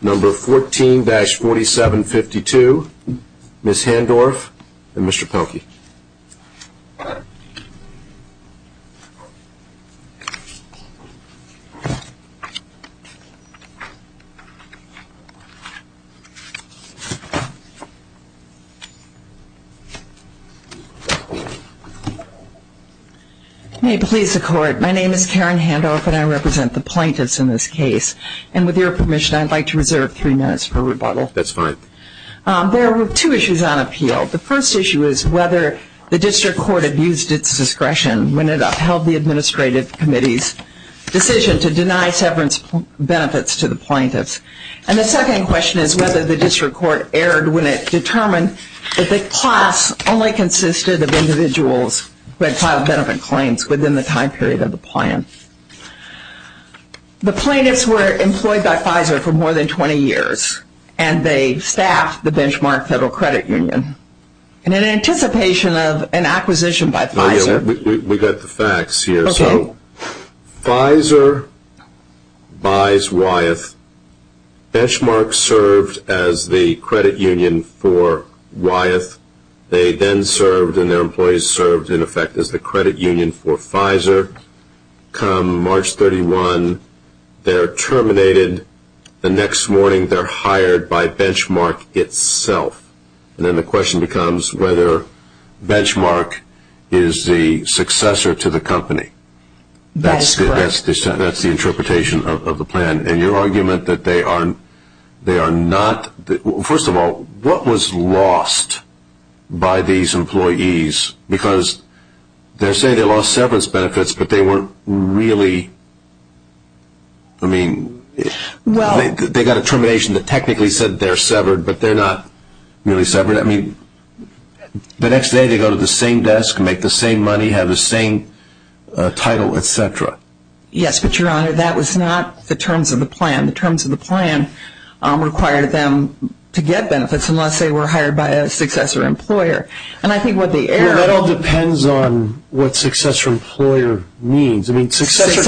Number 14-4752, Ms. Handorff and Mr. Pelkey. May it please the Court, my name is Karen Handorff and I represent the plaintiffs in this case. And with your permission, I'd like to reserve three minutes for rebuttal. That's fine. There were two issues on appeal. The first issue is whether the District Court abused its discretion when it upheld the Administrative Committee's decision to deny severance benefits to the plaintiffs. And the second question is whether the District Court erred when it determined that the class only consisted of individuals who had filed benefit claims within the time period of the plan. The plaintiffs were employed by Pfizer for more than 20 years and they staffed the benchmark federal credit union in anticipation of an acquisition by Pfizer. We got the facts here. Pfizer buys Wyeth. Benchmark served as the credit union for Wyeth. They then served and their employees served in effect as the credit union for Pfizer. They're terminated the next morning. They're hired by Benchmark itself. And then the question becomes whether Benchmark is the successor to the company. That's the interpretation of the plan. And your argument that they are not, first of all, what was lost by these employees? Because they say they lost severance benefits, but they weren't really, I mean, they got a termination that technically said they're severed, but they're not really severed. I mean, the next day they go to the same desk, make the same money, have the same title, et cetera. Yes, but your honor, that was not the terms of the plan. The terms of the plan required them to get benefits unless they were hired by a successor employer. Well, that all depends on what successor employer means. I mean, successor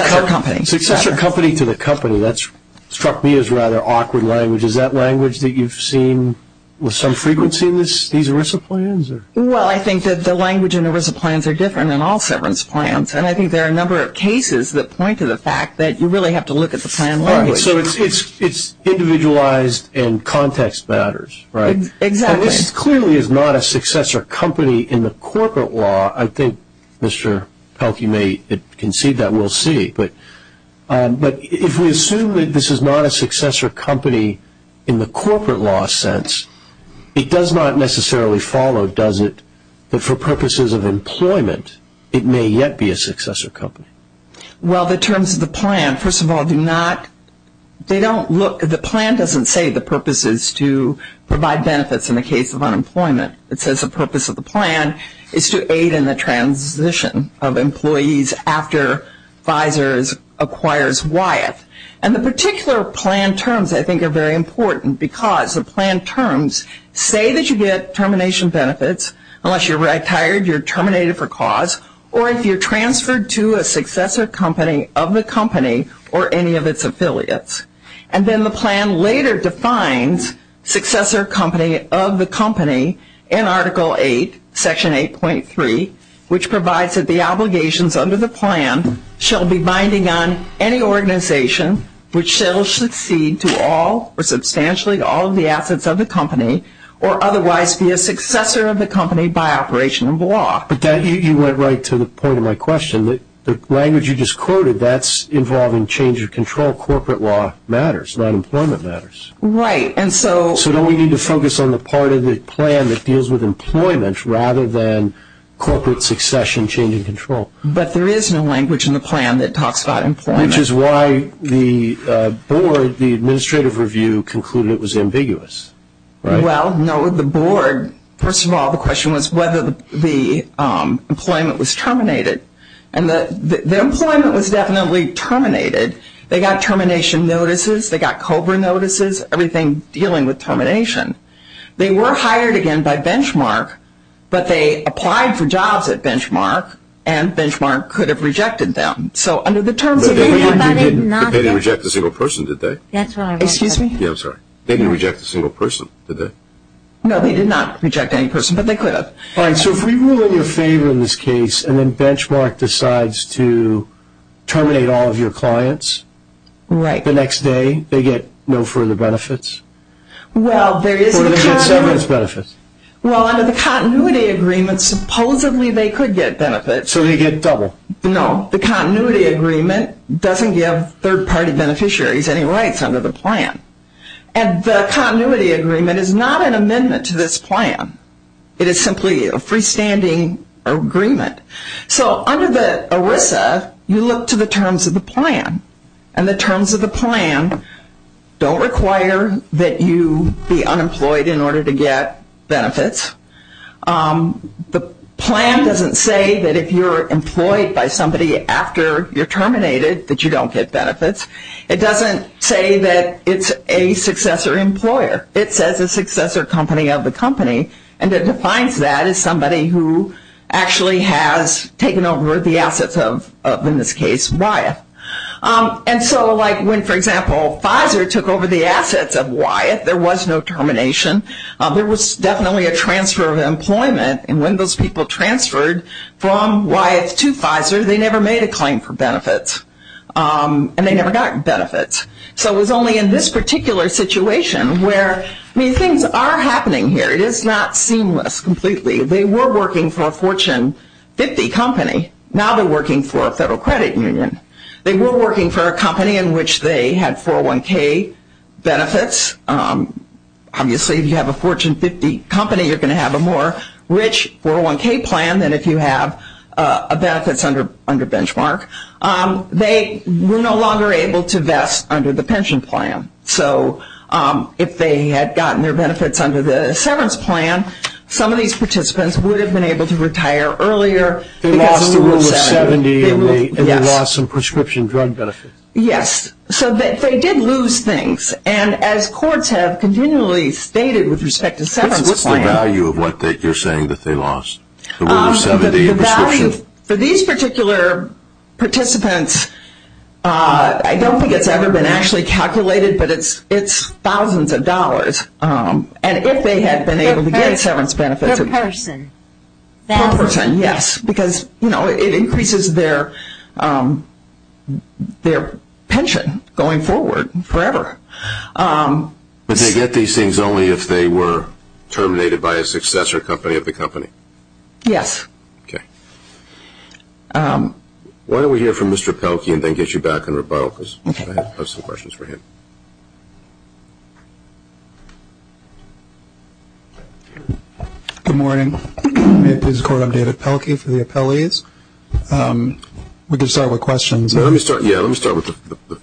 company to the company, that's struck me as rather awkward language. Is that language that you've seen with some frequency in these ERISA plans? Well, I think that the language in ERISA plans are different in all severance plans. And I think there are a number of cases that point to the fact that you really have to look at the plan language. So it's individualized and context matters, right? Exactly. So this clearly is not a successor company in the corporate law. I think Mr. Pelkey may concede that, we'll see. But if we assume that this is not a successor company in the corporate law sense, it does not necessarily follow, does it, that for purposes of employment it may yet be a successor company? Well, the terms of the plan, first of all, do not, they don't look, the plan doesn't say the purpose is to provide benefits in the case of unemployment. It says the purpose of the plan is to aid in the transition of employees after Pfizer acquires Wyeth. And the particular plan terms, I think, are very important because the plan terms say that you get termination benefits unless you're retired, you're terminated for cause, or if you're transferred to a successor company of the company or any of its affiliates. And then the plan later defines successor company of the company in Article 8, Section 8.3, which provides that the obligations under the plan shall be binding on any organization which shall succeed to all or substantially to all of the assets of the company or otherwise be a successor of the company by operation of law. But you went right to the point of my question. The language you just quoted, that's involving change of control. Corporate law matters. Not employment matters. Right. And so... So don't we need to focus on the part of the plan that deals with employment rather than corporate succession, change of control? But there is no language in the plan that talks about employment. Which is why the board, the administrative review, concluded it was ambiguous. Well, no, the board, first of all, the question was whether the employment was terminated and the employment was definitely terminated. They got termination notices, they got COBRA notices, everything dealing with termination. They were hired again by Benchmark, but they applied for jobs at Benchmark and Benchmark could have rejected them. So under the terms... But they didn't reject a single person, did they? Excuse me? Yeah, I'm sorry. They didn't reject a single person, did they? No, they did not reject any person, but they could have. All right, so if we rule in your favor in this case and then Benchmark decides to terminate all of your clients, the next day they get no further benefits or they get severance benefits? Well, under the continuity agreement, supposedly they could get benefits. So they get double? No. The continuity agreement doesn't give third-party beneficiaries any rights under the plan. And the continuity agreement is not an amendment to this plan. It is simply a freestanding agreement. So under the ERISA, you look to the terms of the plan. And the terms of the plan don't require that you be unemployed in order to get benefits. The plan doesn't say that if you're employed by somebody after you're terminated that you don't get benefits. It doesn't say that it's a successor employer. It says a successor company of the company, and it defines that as somebody who actually has taken over the assets of, in this case, Wyeth. And so like when, for example, Pfizer took over the assets of Wyeth, there was no termination. There was definitely a transfer of employment. And when those people transferred from Wyeth to Pfizer, they never made a claim for benefits. And they never got benefits. So it was only in this particular situation where, I mean, things are happening here. It is not seamless completely. They were working for a Fortune 50 company. Now they're working for a federal credit union. They were working for a company in which they had 401k benefits. Obviously, if you have a Fortune 50 company, you're going to have a more rich 401k plan than if you have benefits under benchmark. They were no longer able to vest under the pension plan. So if they had gotten their benefits under the severance plan, some of these participants would have been able to retire earlier. They lost the rule of 70, and they lost some prescription drug benefits. Yes. So they did lose things. And as courts have continually stated with respect to severance plans. What's the value of what you're saying that they lost, the rule of 70 and prescription? For these particular participants, I don't think it's ever been actually calculated, but it's thousands of dollars. And if they had been able to get severance benefits. Per person. Per person, yes. Because it increases their pension going forward forever. But they get these things only if they were terminated by a successor company of the company. Yes. Okay. Why don't we hear from Mr. Pelkey, and then get you back in rebuttal, because I have some questions for him. Good morning. May it please the court, I'm David Pelkey for the appellees. We can start with questions. Let me start, yeah, let me start with the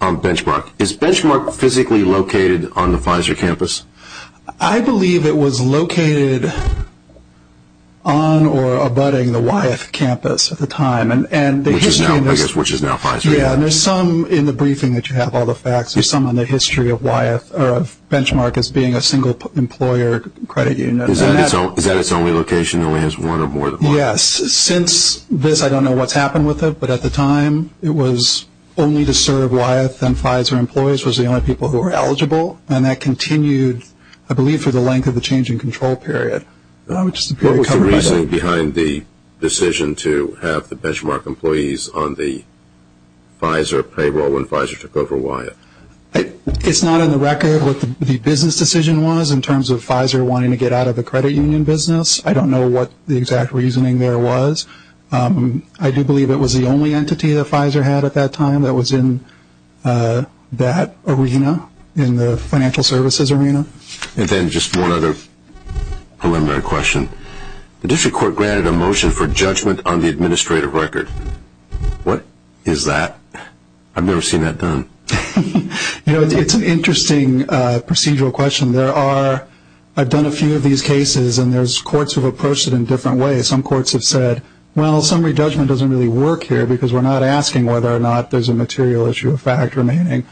benchmark. Is benchmark physically located on the Pfizer campus? I believe it was located on or abutting the Wyeth campus at the time. Which is now Pfizer. Yeah, and there's some in the briefing that you have, all the facts. There's some in the history of Wyeth, or of benchmark as being a single employer credit unit. Is that its only location, only has one or more? Yes. Since this, I don't know what's happened with it, but at the time, it was only to serve Wyeth and Pfizer employees, was the only people who were eligible. And that continued, I believe, for the length of the change in control period. Which is very comfortable. What was the reasoning behind the decision to have the benchmark employees on the Pfizer payroll when Pfizer took over Wyeth? It's not on the record what the business decision was, in terms of Pfizer wanting to get out of the credit union business. I don't know what the exact reasoning there was. I do believe it was the only entity that Pfizer had at that time that was in that arena, in the financial services arena. And then just one other preliminary question. The district court granted a motion for judgment on the administrative record. What is that? I've never seen that done. You know, it's an interesting procedural question. There are, I've done a few of these cases, and there's courts who have approached it in different ways. Some courts have said, well, summary judgment doesn't really work here, because we're not asking whether or not there's a material issue of fact remaining.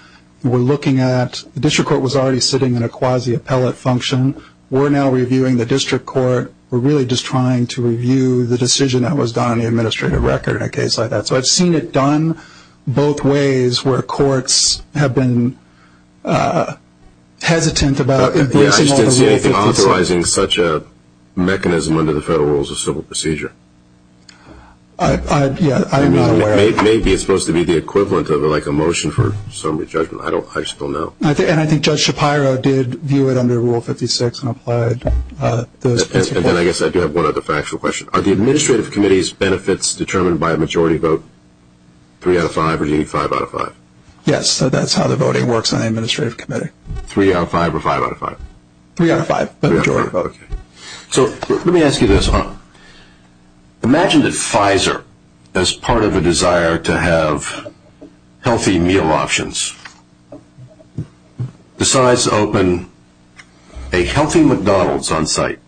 We're looking at, the district court was already sitting in a quasi-appellate function. We're now reviewing the district court. We're really just trying to review the decision that was done on the administrative record in a case like that. So I've seen it done both ways, where courts have been hesitant about embracing all the rules that they say. Yeah, I just didn't see anything authorizing such a mechanism under the federal rules of civil procedure. I, yeah, I am not aware of that. Maybe it's supposed to be the equivalent of like a motion for summary judgment. I don't, I just don't know. And I think Judge Shapiro did view it under Rule 56 and applied those principles. And then I guess I do have one other factual question. Are the administrative committee's benefits determined by a majority vote? Three out of five, or do you need five out of five? Yes, so that's how the voting works on the administrative committee. Three out of five, or five out of five? Three out of five, but majority vote. So let me ask you this. Imagine that Pfizer, as part of a desire to have healthy meal options, decides to open a healthy McDonald's on site.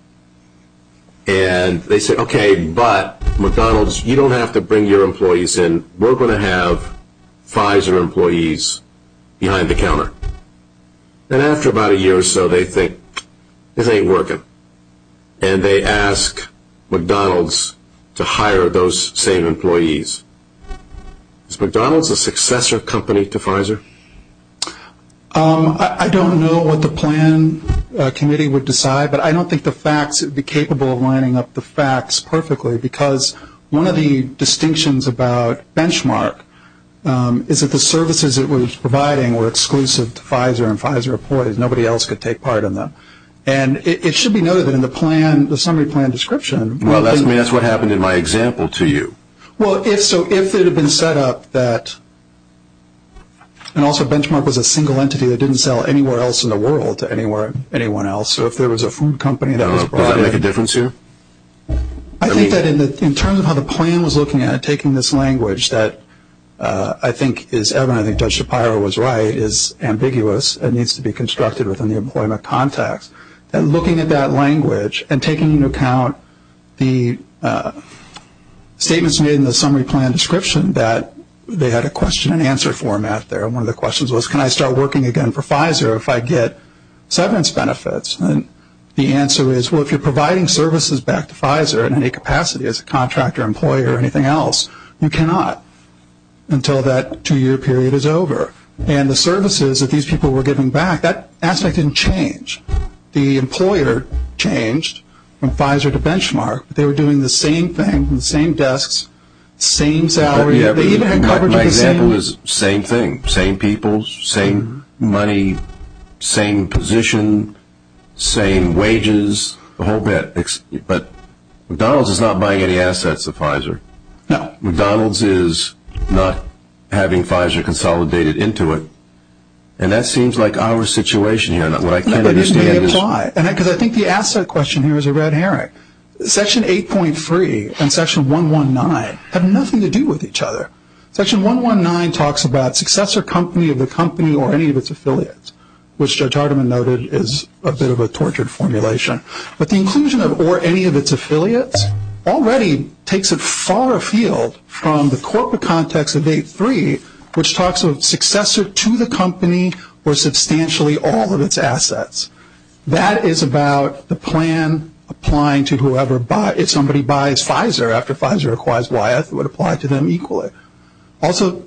And they say, okay, but McDonald's, you don't have to bring your employees in. We're going to have Pfizer employees behind the counter. And after about a year or so, they think, this ain't working. And they ask McDonald's to hire those same employees. Is McDonald's a successor company to Pfizer? I don't know what the plan committee would decide, but I don't think the facts would be capable of lining up the facts perfectly. Because one of the distinctions about benchmark is that the services it was providing were exclusive to Pfizer and Pfizer employees. Nobody else could take part in them. And it should be noted that in the plan, the summary plan description. Well, that's what happened in my example to you. Well, if so, if it had been set up that, and also benchmark was a single entity that didn't sell anywhere else in the world to anyone else. So if there was a food company that was brought in. Does that make a difference here? I think that in terms of how the plan was looking at it, taking this language that I think is evident, I think Judge Shapiro was right, is ambiguous. It needs to be constructed within the employment context. And looking at that language and taking into account the statements made in the summary plan description that they had a question and answer format there. And one of the questions was, can I start working again for Pfizer if I get severance benefits? And the answer is, well, if you're providing services back to Pfizer in any capacity as a contractor, employer or anything else, you cannot until that two year period is over. And the services that these people were giving back, that aspect didn't change. The employer changed from Pfizer to Benchmark. They were doing the same thing, the same desks, same salary. They even had coverage of the same... My example is same thing, same people, same money, same position, same wages, the whole bit. But McDonald's is not buying any assets of Pfizer. No. McDonald's is not having Pfizer consolidated into it. And that seems like our situation here. And what I can't understand is... It may apply, because I think the asset question here is a red herring. Section 8.3 and Section 119 have nothing to do with each other. Section 119 talks about successor company of the company or any of its affiliates, which Judge Hardiman noted is a bit of a tortured formulation. But the inclusion of or any of its affiliates already takes it far afield from the corporate context of 8.3, which talks of successor to the company or substantially all of its assets. That is about the plan applying to whoever... If somebody buys Pfizer after Pfizer acquires Wyeth, it would apply to them equally. Also...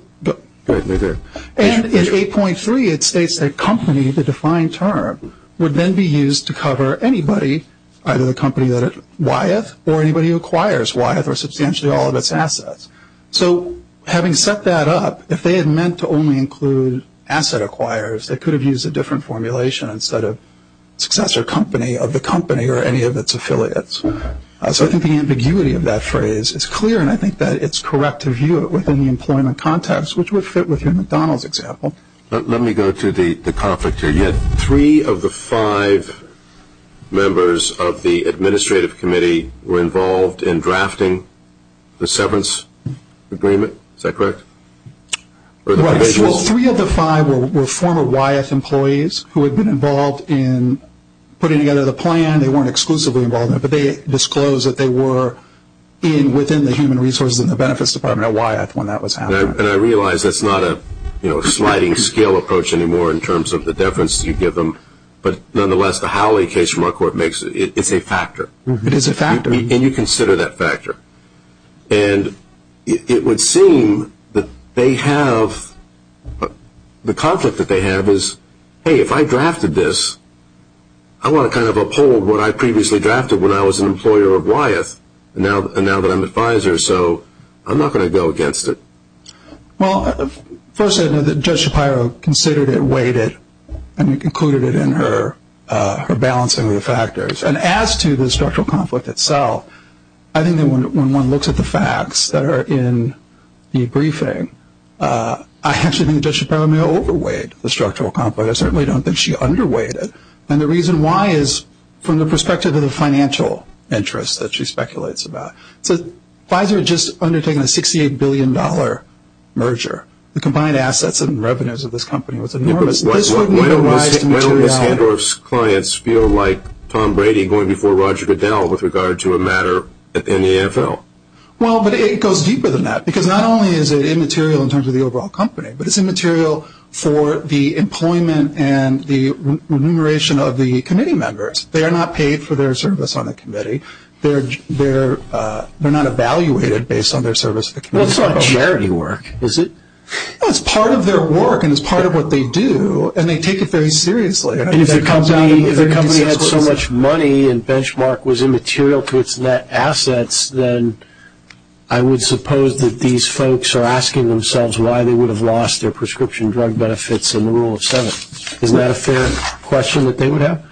And in 8.3, it states that company, the defined term, would then be used to cover anybody, either the company that Wyeth or anybody who acquires Wyeth or substantially all of its assets. So having set that up, if they had meant to only include asset acquirers, they could have used a different formulation instead of successor company of the company or any of its affiliates. So I think the ambiguity of that phrase is clear and I think that it's correct to view it within the employment context, which would fit with your McDonald's example. Let me go to the conflict here. You had three of the five members of the administrative committee were involved in drafting the severance agreement. Is that correct? Well, three of the five were former Wyeth employees who had been involved in putting together the plan. They weren't exclusively involved in it, but they disclosed that they were within the human resources and the benefits department at Wyeth when that was happening. And I realize that's not a sliding scale approach anymore in terms of the deference you give them, but nonetheless, the Howley case from our court, it's a factor. It is a factor. And you consider that factor. And it would seem that they have... Hey, if I drafted this, I want to kind of uphold what I previously drafted when I was an employer of Wyeth and now that I'm advisor, so I'm not going to go against it. Well, first, I know that Judge Shapiro considered it, weighed it, and included it in her balancing of the factors. And as to the structural conflict itself, I think that when one looks at the facts that are in the briefing, I actually think Judge Shapiro may have overweighed the structural conflict. I certainly don't think she underweighed it. And the reason why is from the perspective of the financial interests that she speculates about. So Pfizer had just undertaken a $68 billion merger. The combined assets and revenues of this company was enormous. Why don't Ms. Gandorf's clients feel like Tom Brady going before Roger Goodell with regard to a matter in the NFL? Well, but it goes deeper than that. Because not only is it immaterial in terms of the overall company, but it's immaterial for the employment and the remuneration of the committee members. They are not paid for their service on the committee. They're not evaluated based on their service to the committee. Well, it's not charity work, is it? It's part of their work and it's part of what they do. And they take it very seriously. And if the company had so much money and Benchmark was immaterial to its net assets, then I would suppose that these folks are asking themselves why they would have lost their prescription drug benefits in the rule of seven. Isn't that a fair question that they would have?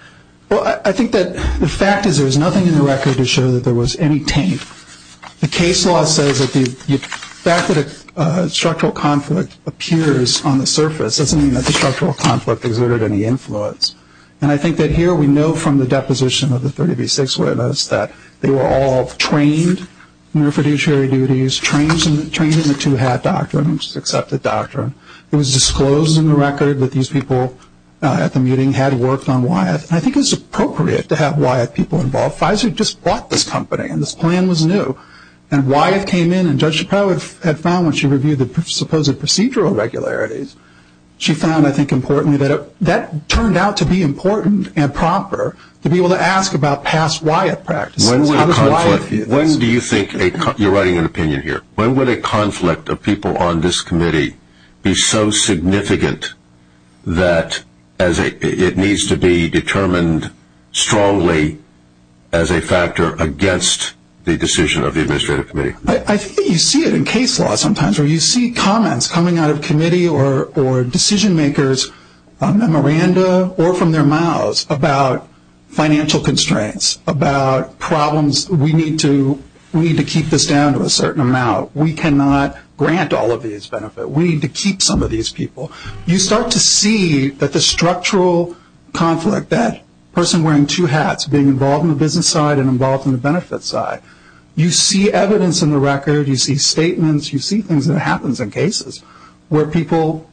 Well, I think that the fact is there is nothing in the record to show that there was any taint. The case law says that the fact that a structural conflict appears on the surface doesn't mean that the structural conflict exerted any influence. And I think that here we know from the deposition of the 30B6 witness that they were all trained in their fiduciary duties, trained in the two-hat doctrine, which is an accepted doctrine. It was disclosed in the record that these people at the meeting had worked on Wyeth. And I think it was appropriate to have Wyeth people involved. Pfizer just bought this company and this plan was new. And Wyeth came in and Judge Shapiro had found when she reviewed supposed procedural regularities, she found, I think importantly, that that turned out to be important and proper to be able to ask about past Wyeth practices. When would a conflict, you're writing an opinion here, when would a conflict of people on this committee be so significant that it needs to be determined strongly as a factor against the decision of the administrative committee? I think that you see it in case law sometimes, where you see comments coming out of committee or decision makers on memoranda or from their mouths about financial constraints, about problems, we need to keep this down to a certain amount, we cannot grant all of these benefits, we need to keep some of these people. You start to see that the structural conflict, that person wearing two hats being involved in the business side and involved in the benefit side, you see evidence in the record, you see statements, you see things that happens in cases where people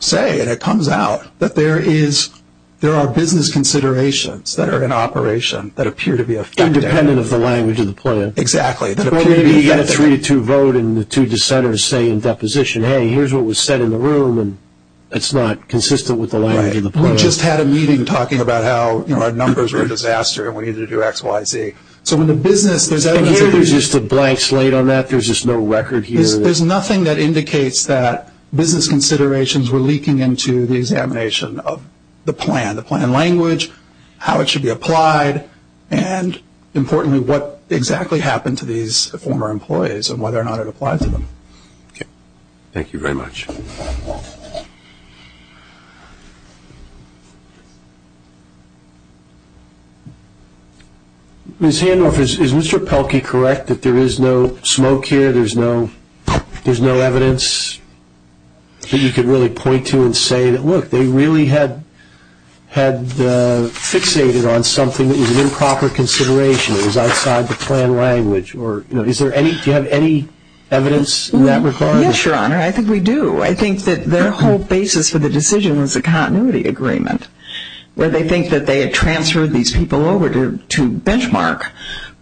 say, and it comes out, that there are business considerations that are in operation that appear to be affected. Independent of the language of the plan. Exactly. Or maybe you get a 3-2 vote and the two dissenters say in deposition, hey, here's what was said in the room and it's not consistent with the language of the plan. We just had a meeting talking about how our numbers were a disaster and we needed to do X, Y, Z. So when the business, there's evidence. And here there's just a blank slate on that? There's just no record here? There's nothing that indicates that business considerations were leaking into the examination of the plan. The plan language, how it should be applied, and importantly, what exactly happened to these former employees and whether or not it applied to them. Thank you very much. Ms. Handorf, is Mr. Pelkey correct that there is no smoke here, there's no evidence that you could really point to and say, look, they really had fixated on something that was an improper consideration, it was outside the plan language? Or do you have any evidence in that regard? I think we do. I think we do. I think that their whole basis for the decision was a continuity agreement, where they think that they had transferred these people over to benchmark,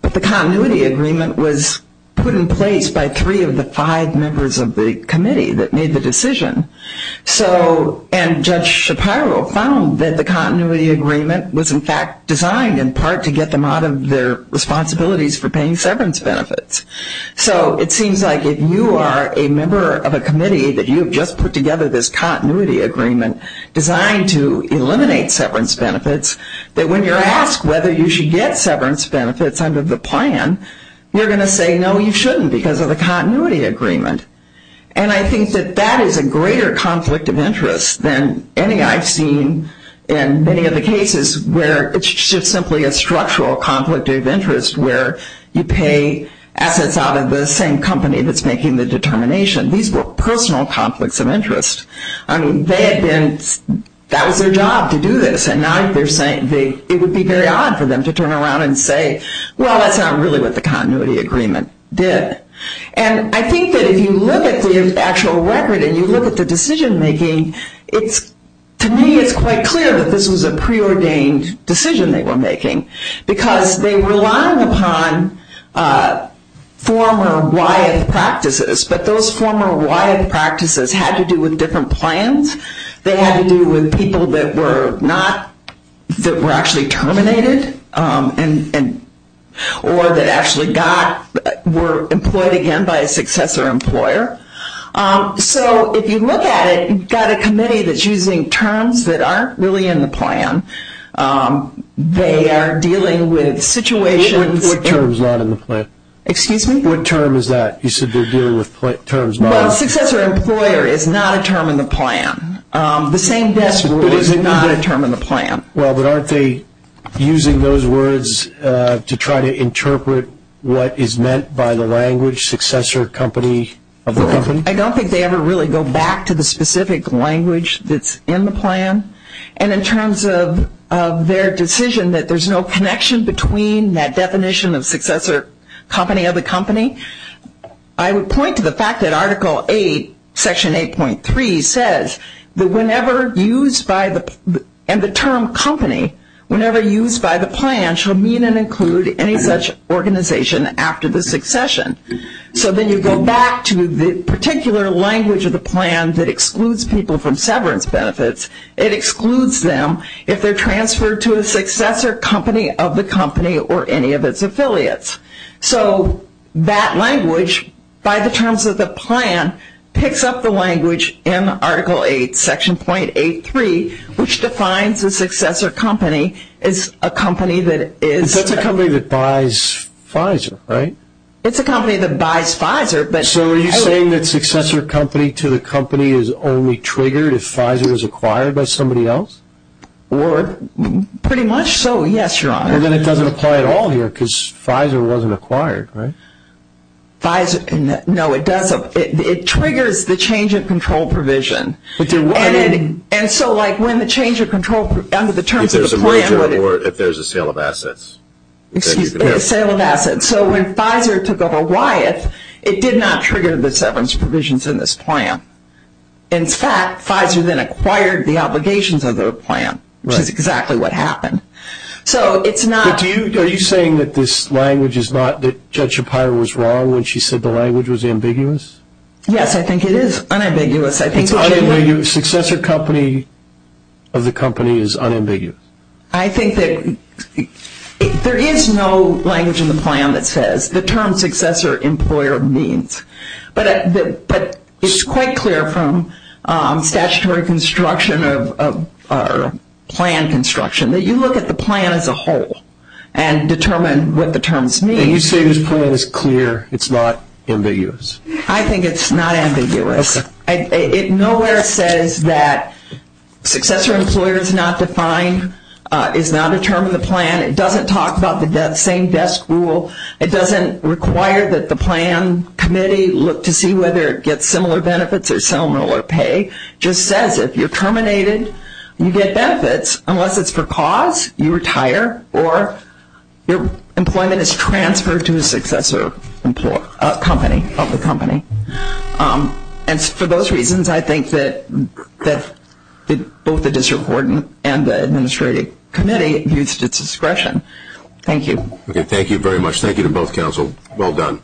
but the continuity agreement was put in place by three of the five members of the committee that made the decision. And Judge Shapiro found that the continuity agreement was in fact designed in part to get them out of their responsibilities for paying severance benefits. So it seems like if you are a member of a committee that you've just put together this continuity agreement designed to eliminate severance benefits, that when you're asked whether you should get severance benefits under the plan, you're going to say, no, you shouldn't because of the continuity agreement. And I think that that is a greater conflict of interest than any I've seen in many of the cases where it's just simply a structural conflict of interest where you pay assets out of the same company that's making the determination. These were personal conflicts of interest. I mean, that was their job to do this, and now it would be very odd for them to turn around and say, well, that's not really what the continuity agreement did. And I think that if you look at the actual record and you look at the decision making, to me it's quite clear that this was a preordained decision they were making because they were relying upon former WIATH practices, but those former WIATH practices had to do with different plans. They had to do with people that were not, that were actually terminated or that actually got, were employed again by a successor employer. So if you look at it, you've got a committee that's using terms that aren't really in the plan. They are dealing with situations... What term's not in the plan? Excuse me? What term is that? You said they're dealing with terms... Well, successor employer is not a term in the plan. The same desk rule is not a term in the plan. Well, but aren't they using those words to try to interpret what is meant by the language successor company of the company? I don't think they ever really go back to the specific language that's in the plan. And in terms of their decision that there's no connection between that definition of successor company of the company, I would point to the fact that Article 8, Section 8.3 says that whenever used by the, and the term company, whenever used by the plan shall mean and include any such organization after the succession. So then you go back to the particular language of the plan that excludes people from severance benefits. It excludes them if they're transferred to a successor company of the company or any of its affiliates. So that language, by the terms of the plan, picks up the language in Article 8, Section 8.3, which defines a successor company as a company that is... That's a company that buys Pfizer, right? It's a company that buys Pfizer, but... So are you saying that successor company to the company is only triggered if Pfizer is acquired by somebody else? Or... Pretty much so, yes, Your Honor. And then it doesn't apply at all here, because Pfizer wasn't acquired, right? Pfizer... No, it doesn't. It triggers the change of control provision. And so, like, when the change of control, under the terms of the plan... If there's a merger or if there's a sale of assets. Excuse me, a sale of assets. So when Pfizer took over Wyeth, it did not trigger the severance provisions in this plan. In fact, Pfizer then acquired the obligations of their plan, which is exactly what happened. So it's not... But do you... Are you saying that this language is not... That Judge Shapiro was wrong when she said the language was ambiguous? Yes, I think it is unambiguous. It's unambiguous. Successor company of the company is unambiguous. I think that... There is no language in the plan that says the term successor employer means. But it's quite clear from statutory construction or plan construction that you look at the plan as a whole and determine what the terms mean. And you say this plan is clear. It's not ambiguous. I think it's not ambiguous. It nowhere says that successor employer is not defined, is not a term of the plan. It doesn't talk about the same desk rule. It doesn't require that the plan committee look to see whether it gets similar benefits or similar pay. Just says if you're terminated, you get benefits. Unless it's for cause, you retire or your employment is transferred to a successor company of the company. And for those reasons, I think that both the district court and the administrative committee used its discretion. Thank you. Okay. Thank you very much. Thank you to both counsel. Well done.